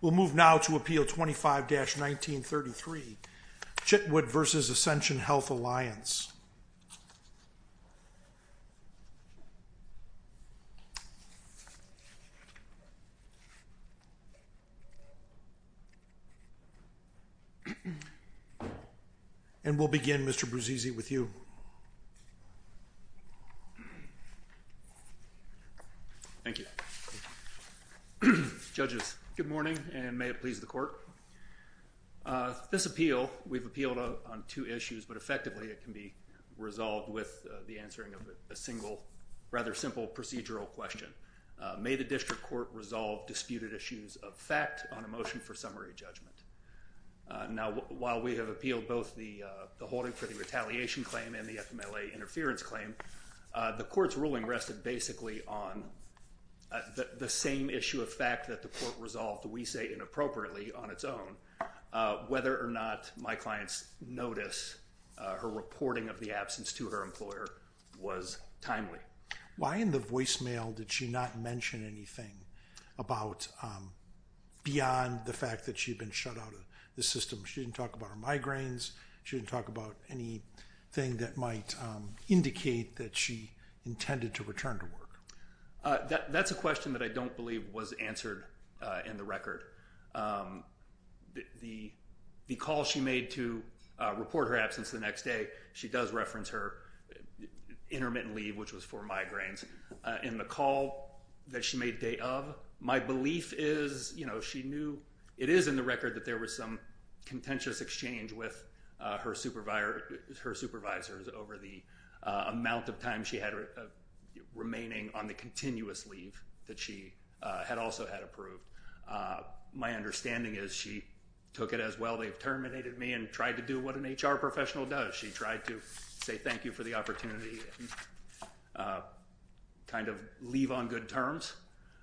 We'll move now to Appeal 25-1933, Chitwood v. Ascension Health Alliance. And we'll begin, Mr. Bruzzese, with you. Thank you. Judges, good morning, and may it please the court. This appeal, we've appealed on two issues, but effectively it can be resolved with the answering of a single, rather simple procedural question. May the district court resolve disputed issues of fact on a motion for summary judgment. Now, while we have appealed both the holding for the retaliation claim and the FMLA interference claim, the court's reporting of the absence to her employer was timely. Why in the voicemail did she not mention anything beyond the fact that she'd been shut out of the system? She didn't talk about her migraines. She didn't talk about anything that might indicate that she intended to return to work. That's a question that I think she does reference her intermittent leave, which was for migraines, in the call that she made a date of. My belief is, you know, she knew, it is in the record that there was some contentious exchange with her supervisor, her supervisors over the amount of time she had remaining on the continuous leave that she had also had approved. My understanding is she took it as, well, they've terminated me and tried to do what an HR professional does. She tried to say thank you for the opportunity and kind of leave on good terms.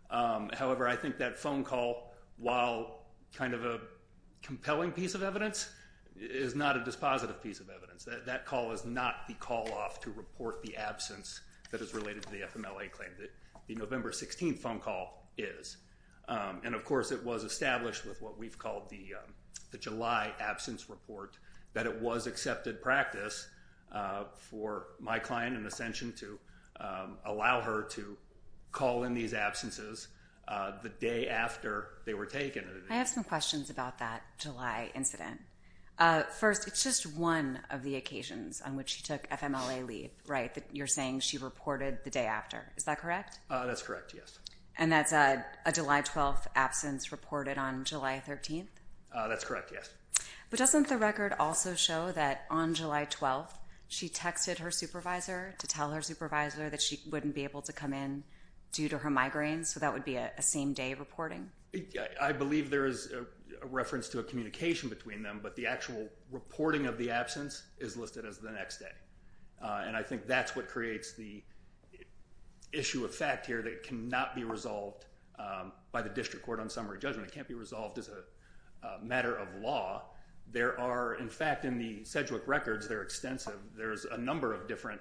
However, I think that phone call, while kind of a compelling piece of evidence, is not a positive piece of evidence. That call is not the call off to report the absence that is related to the FMLA claim. The November 16th phone call is. And of course it was established with what we've called the July absence report that it was accepted practice for my client in Ascension to allow her to call in these occasions on which she took FMLA leave, right? You're saying she reported the day after. Is that correct? That's correct, yes. And that's a July 12th absence reported on July 13th? That's correct, yes. But doesn't the record also show that on July 12th she texted her supervisor to tell her supervisor that she wouldn't be able to come in due to her is listed as the next day. And I think that's what creates the issue of fact here that cannot be resolved by the district court on summary judgment. It can't be resolved as a matter of law. There are, in fact, in the Sedgwick records, they're extensive. There's a number of different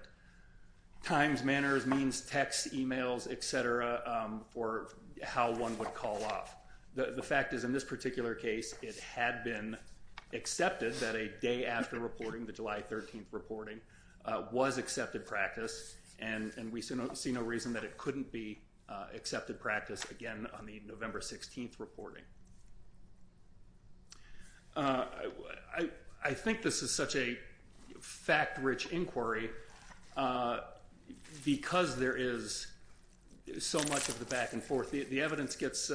times, manners, means, texts, emails, et cetera, for how one would call off. The fact is in this particular case it had been accepted that a day after reporting, the July 13th reporting, was accepted practice. And we see no reason that it couldn't be accepted practice again on the November 16th reporting. I think this is such a fact-rich inquiry because there is so much of the back and forth. The evidence gets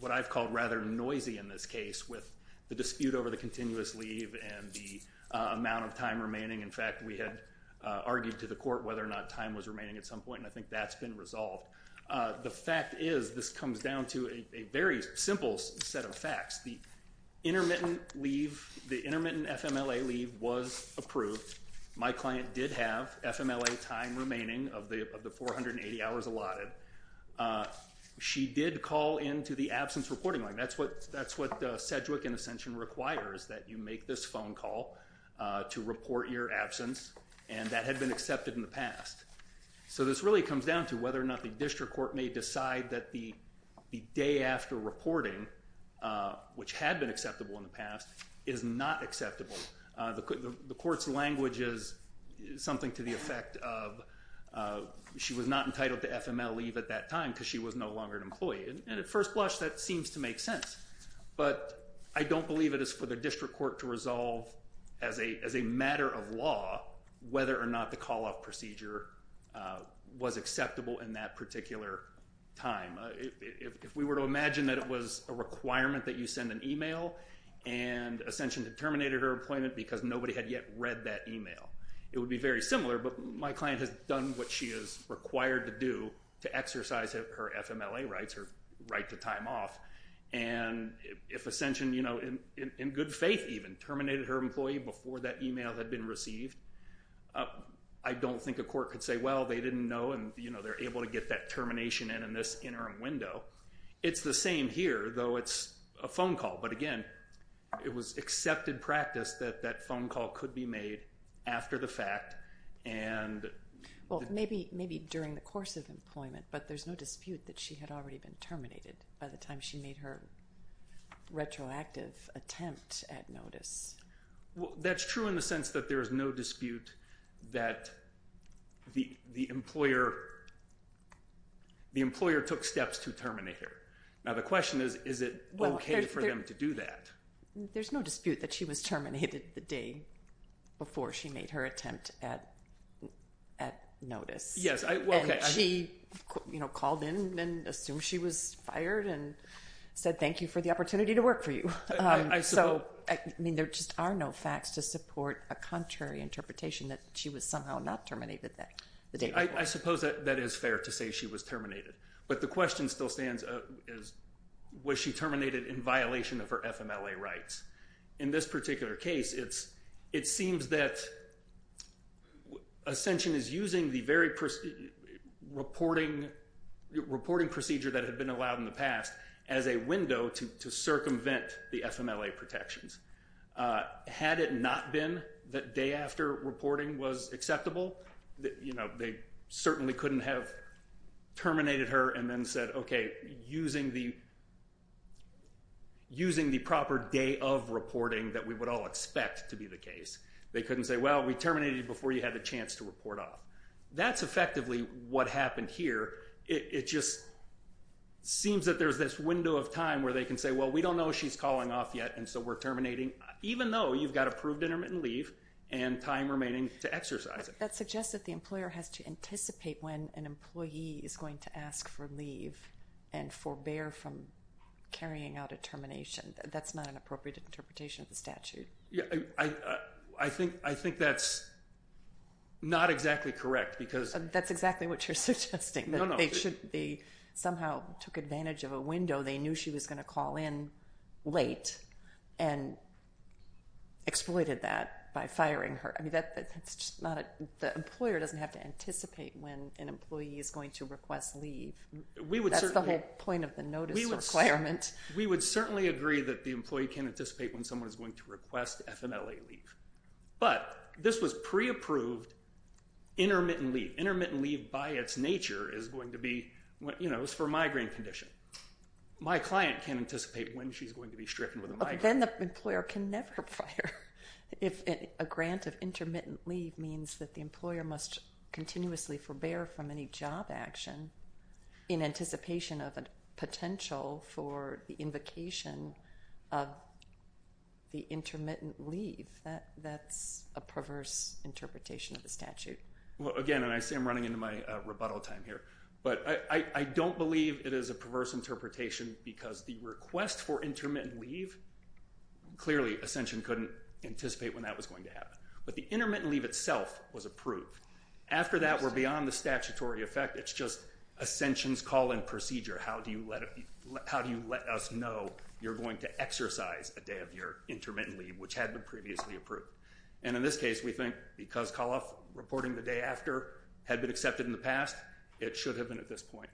what I've called rather noisy in this case with the dispute over the continuous leave and the amount of time remaining. In fact, we had argued to the court whether or not time was remaining at some point and I think that's been resolved. The fact is this comes down to a very simple set of facts. The intermittent leave, the intermittent FMLA leave was approved. My client did have FMLA time remaining of the 480 hours allotted. She did call into the absence reporting line. That's what Sedgwick and Ascension requires, that you make this phone call to report your absence and that had been accepted in the past. So this really comes down to whether or not the district court may decide that the day after reporting, which had been acceptable in the past, is not acceptable. The court's language is something to the effect of she was not entitled to FMLA leave at that time because she was no longer an employee. And at first blush that seems to make sense, but I don't believe it is for the district court to resolve as a matter of law whether or not the call-off procedure was acceptable in that particular time. If we were to imagine that it was a requirement that you send an email and Ascension had terminated her appointment because nobody had yet read that email, it would be very similar, but my client has done what she is required to do to exercise her FMLA rights, her right to time off. And if Ascension, you know, in good faith even, terminated her employee before that email had been received, I don't think a court could say, well, they didn't know and, you know, they're able to get that termination in in this interim window. It's the same here, though it's a phone call. But again, it was accepted practice that that phone call could be made after the fact. Well, maybe during the course of employment, but there's no dispute that she had already been terminated by the time she made her retroactive attempt at notice. Well, that's true in the sense that there's no dispute that the employer took steps to terminate her. Now the question is, is it okay for them to do that? There's no dispute that she was terminated the day before she made her attempt at notice. Yes. Well, okay. And she, you know, called in and assumed she was fired and said, thank you for the opportunity to work for you. I suppose. So, I mean, there just are no facts to support a contrary interpretation that she was somehow not terminated the day before. There's reporting procedure that had been allowed in the past as a window to circumvent the FMLA protections. Had it not been that day after reporting was acceptable, you know, they certainly couldn't have terminated her and then said, okay, using the proper day of reporting that we would all expect to be the case. They couldn't say, well, we terminated you before you had a chance to report off. That's effectively what happened here. It just seems that there's this window of time where they can say, well, we don't know she's calling off yet and so we're terminating, even though you've got approved intermittent leave and time remaining to exercise it. That suggests that the employer has to anticipate when an employee is going to ask for leave and forbear from carrying out a termination. That's not an appropriate interpretation of the statute. I think that's not exactly correct. That's exactly what you're suggesting. They somehow took advantage of a window. They knew she was going to call in late and exploited that by firing her. The employer doesn't have to anticipate when an employee is going to request leave. That's the whole point of the notice requirement. We would certainly agree that the employee can anticipate when someone is going to request FMLA leave. But this was pre-approved intermittent leave. Intermittent leave by its nature is for migraine condition. My client can't anticipate when she's going to be stricken with a migraine. Then the employer can never fire if a grant of intermittent leave means that the employer must continuously forbear from any job action in anticipation of a potential for the invocation of the intermittent leave. That's a perverse interpretation of the statute. Again, and I see I'm running into my rebuttal time here, but I don't believe it is a perverse interpretation because the request for intermittent leave, clearly Ascension couldn't anticipate when that was going to happen. But the intermittent leave itself was approved. After that, we're beyond the statutory effect. It's just Ascension's call in procedure. How do you let us know you're going to exercise a day of your intermittent leave, which had been previously approved? And in this case, we think because Calaf, reporting the day after, had been accepted in the past, it should have been at this point.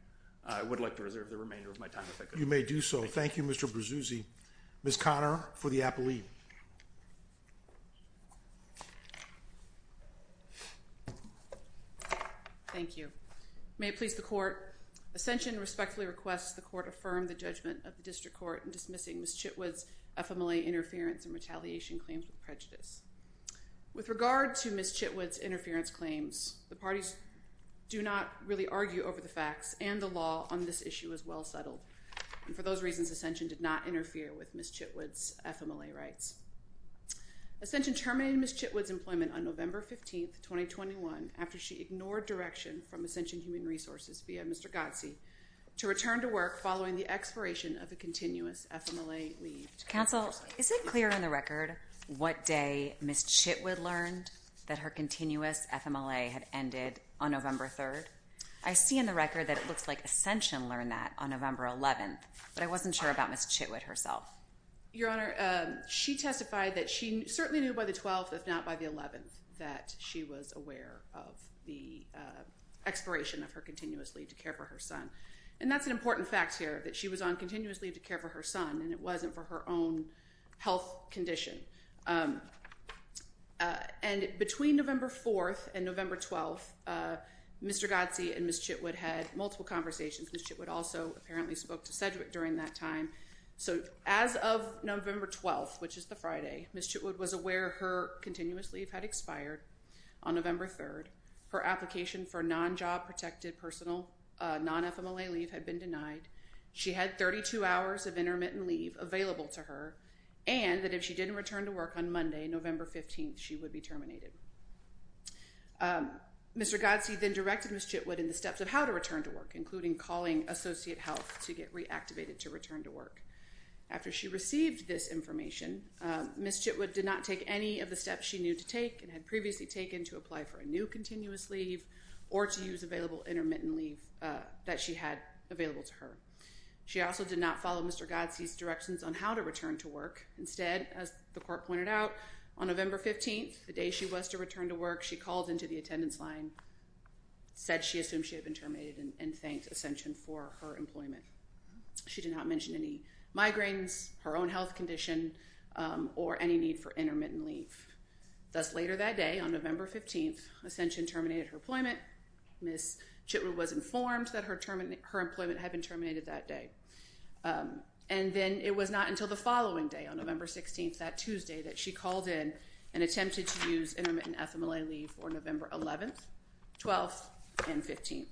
I would like to reserve the remainder of my time if I could. You may do so. Thank you, Mr. Berzuzzi. Ms. Conner for the appellee. Thank you. May it please the court. Ascension respectfully requests the court affirm the judgment of the district court in dismissing Ms. Chitwood's FMLA interference and retaliation claims with prejudice. With regard to Ms. Chitwood's interference claims, the parties do not really argue over the facts, and the law on this issue is well settled. And for those reasons, Ascension did not interfere with Ms. Chitwood's FMLA rights. Ascension terminated Ms. Chitwood's employment on November 15th, 2021, after she ignored direction from Ascension Human Resources via Mr. Gotsi, to return to work following the expiration of a continuous FMLA leave. Counsel, is it clear on the record what day Ms. Chitwood learned that her continuous FMLA had ended on November 3rd? I see in the record that it looks like Ascension learned that on November 11th, but I wasn't sure about Ms. Chitwood herself. Your Honor, she testified that she certainly knew by the 12th, if not by the 11th, that she was aware of the expiration of her continuous leave to care for her son. And that's an important fact here, that she was on continuous leave to care for her son, and it wasn't for her own health condition. And between November 4th and November 12th, Mr. Gotsi and Ms. Chitwood had multiple conversations. Ms. Chitwood also apparently spoke to Sedgwick during that time. So, as of November 12th, which is the Friday, Ms. Chitwood was aware her continuous leave had expired on November 3rd. Her application for non-job protected personal, non-FMLA leave had been denied. She had 32 hours of intermittent leave available to her, and that if she didn't return to work on Monday, November 15th, she would be terminated. Mr. Gotsi then directed Ms. Chitwood in the steps of how to return to work, including calling Associate Health to get reactivated to return to work. After she received this information, Ms. Chitwood did not take any of the steps she knew to take and had previously taken to apply for a new continuous leave or to use available intermittent leave that she had available to her. She also did not follow Mr. Gotsi's directions on how to return to work. Instead, as the court pointed out, on November 15th, the day she was to return to work, she called into the attendance line, said she assumed she had been terminated, and thanked Ascension for her employment. She did not mention any migraines, her own health condition, or any need for intermittent leave. Thus, later that day, on November 15th, Ascension terminated her employment. Ms. Chitwood was informed that her employment had been terminated that day. And then it was not until the following day, on November 16th, that Tuesday, that she called in and attempted to use intermittent FMLA leave for November 11th, 12th, and 15th.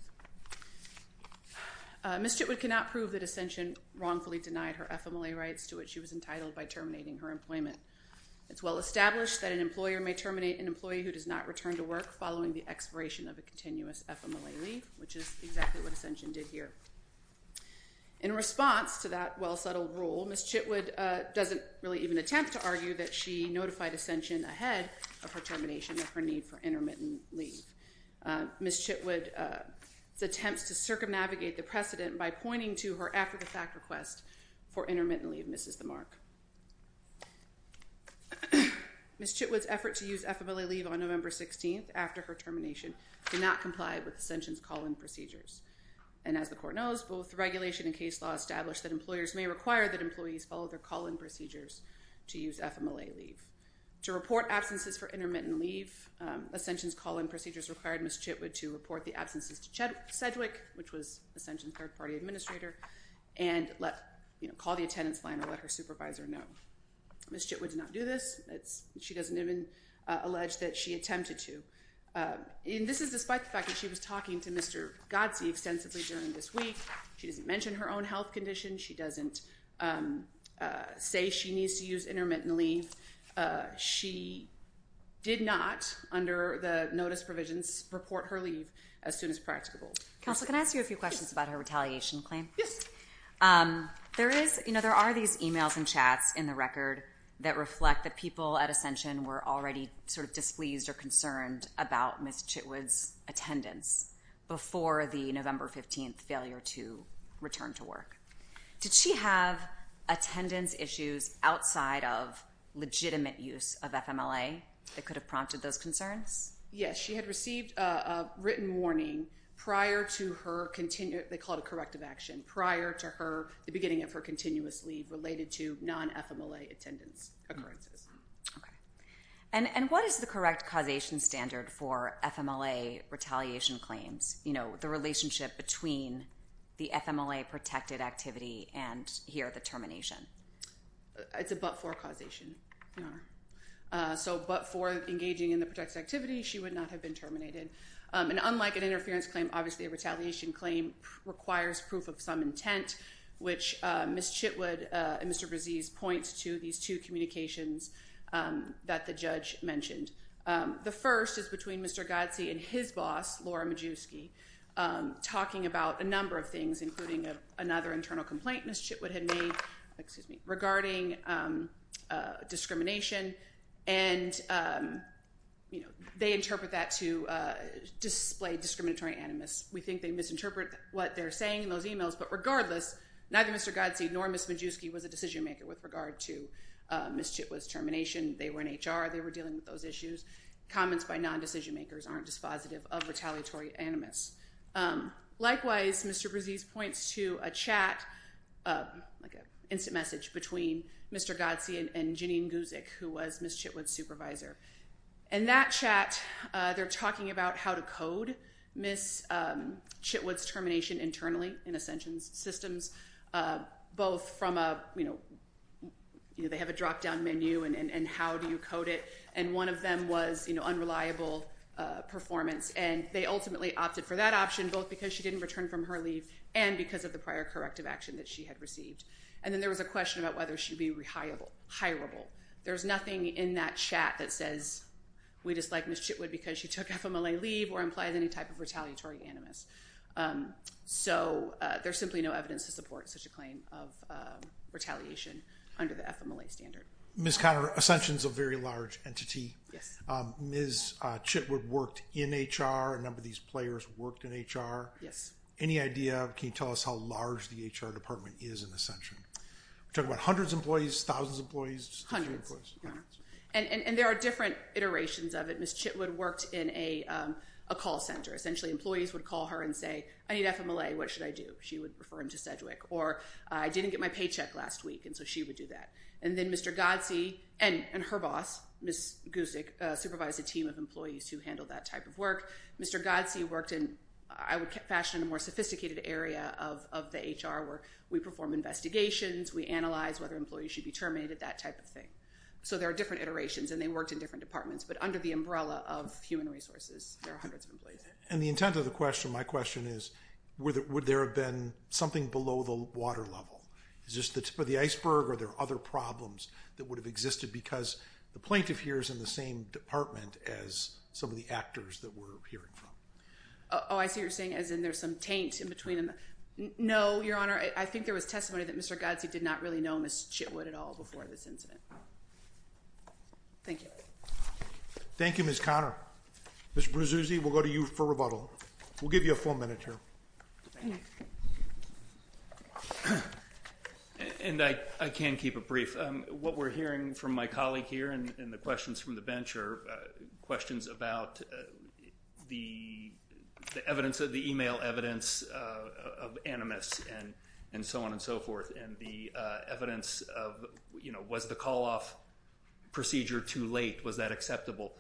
Ms. Chitwood cannot prove that Ascension wrongfully denied her FMLA rights to which she was entitled by terminating her employment. It's well established that an employer may terminate an employee who does not return to work following the expiration of a continuous FMLA leave, which is exactly what Ascension did here. In response to that well-settled rule, Ms. Chitwood doesn't really even attempt to argue that she notified Ascension ahead of her termination of her need for intermittent leave. Ms. Chitwood's attempts to circumnavigate the precedent by pointing to her after-the-fact request for intermittent leave misses the mark. Ms. Chitwood's effort to use FMLA leave on November 16th after her termination did not comply with Ascension's call-in procedures. And as the Court knows, both regulation and case law establish that employers may require that employees follow their call-in procedures to use FMLA leave. To report absences for intermittent leave, Ascension's call-in procedures required Ms. Chitwood to report the absences to Sedgwick, which was Ascension's third-party administrator, and call the attendance line or let her supervisor know. Ms. Chitwood did not do this. She doesn't even allege that she attempted to. And this is despite the fact that she was talking to Mr. Godsey extensively during this week. She doesn't mention her own health condition. She doesn't say she needs to use intermittent leave. She did not, under the notice provisions, report her leave as soon as practicable. Counsel, can I ask you a few questions about her retaliation claim? Yes. There is, you know, there are these e-mails and chats in the record that reflect that people at Ascension were already sort of displeased or concerned about Ms. Chitwood's attendance before the November 15th failure to return to work. Did she have attendance issues outside of legitimate use of FMLA that could have prompted those concerns? Yes, she had received a written warning prior to her—they call it a corrective action—prior to the beginning of her continuous leave related to non-FMLA attendance occurrences. Okay. And what is the correct causation standard for FMLA retaliation claims? You know, the relationship between the FMLA-protected activity and here, the termination. It's a but-for causation, Your Honor. So, but for engaging in the protected activity, she would not have been terminated. And unlike an interference claim, obviously a retaliation claim requires proof of some intent, which Ms. Chitwood and Mr. Brzezis point to these two communications that the judge mentioned. The first is between Mr. Godsey and his boss, Laura Majewski, talking about a number of things, including another internal complaint Ms. Chitwood had made regarding discrimination. And, you know, they interpret that to display discriminatory animus. We think they misinterpret what they're saying in those emails, but regardless, neither Mr. Godsey nor Ms. Majewski was a decision-maker with regard to Ms. Chitwood's termination. They were in HR. They were dealing with those issues. Comments by non-decision-makers aren't dispositive of retaliatory animus. Likewise, Mr. Brzezis points to a chat, like an instant message, between Mr. Godsey and Janine Guzik, who was Ms. Chitwood's supervisor. In that chat, they're talking about how to code Ms. Chitwood's termination internally in Ascension Systems, both from a, you know, they have a drop-down menu and how do you code it. And one of them was, you know, unreliable performance. And they ultimately opted for that option, both because she didn't return from her leave and because of the prior corrective action that she had received. And then there was a question about whether she would be re-hireable. There's nothing in that chat that says we dislike Ms. Chitwood because she took FMLA leave or implies any type of retaliatory animus. So there's simply no evidence to support such a claim of retaliation under the FMLA standard. Ms. Conner, Ascension is a very large entity. Yes. Ms. Chitwood worked in HR. A number of these players worked in HR. Yes. Any idea, can you tell us how large the HR department is in Ascension? We're talking about hundreds of employees, thousands of employees, just a few employees. Hundreds, yeah. And there are different iterations of it. Ms. Chitwood worked in a call center. Essentially, employees would call her and say, I need FMLA, what should I do? She would refer them to Sedgwick. Or, I didn't get my paycheck last week, and so she would do that. And then Mr. Godsey and her boss, Ms. Gusick, supervised a team of employees who handled that type of work. Mr. Godsey worked in, I would fashion, a more sophisticated area of the HR where we perform investigations, we analyze whether employees should be terminated, that type of thing. So there are different iterations, and they worked in different departments. But under the umbrella of human resources, there are hundreds of employees. And the intent of the question, my question is, would there have been something below the water level? Is this the tip of the iceberg, or are there other problems that would have existed? Because the plaintiff here is in the same department as some of the actors that we're hearing from. Oh, I see what you're saying, as in there's some taint in between them. No, Your Honor. I think there was testimony that Mr. Godsey did not really know Ms. Chitwood at all before this incident. Thank you. Thank you, Ms. Conner. Mr. Berzuzzi, we'll go to you for rebuttal. We'll give you a full minute here. And I can keep it brief. What we're hearing from my colleague here and the questions from the bench are questions about the e-mail evidence of animus, and so on and so forth, and the evidence of, you know, was the call-off procedure too late? Was that acceptable?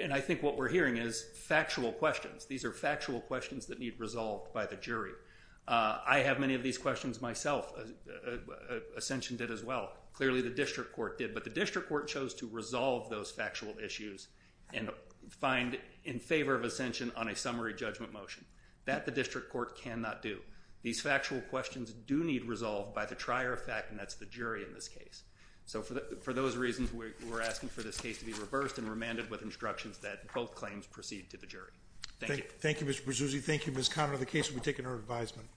And I think what we're hearing is factual questions. These are factual questions that need resolved by the jury. I have many of these questions myself. Ascension did as well. Clearly the district court did, but the district court chose to resolve those factual issues and find in favor of Ascension on a summary judgment motion. That the district court cannot do. These factual questions do need resolved by the trier of fact, and that's the jury in this case. So for those reasons, we're asking for this case to be reversed and remanded with instructions that both claims proceed to the jury. Thank you. Thank you, Mr. Berzuzzi. Thank you, Ms. Conner. The case will be taken under advisement.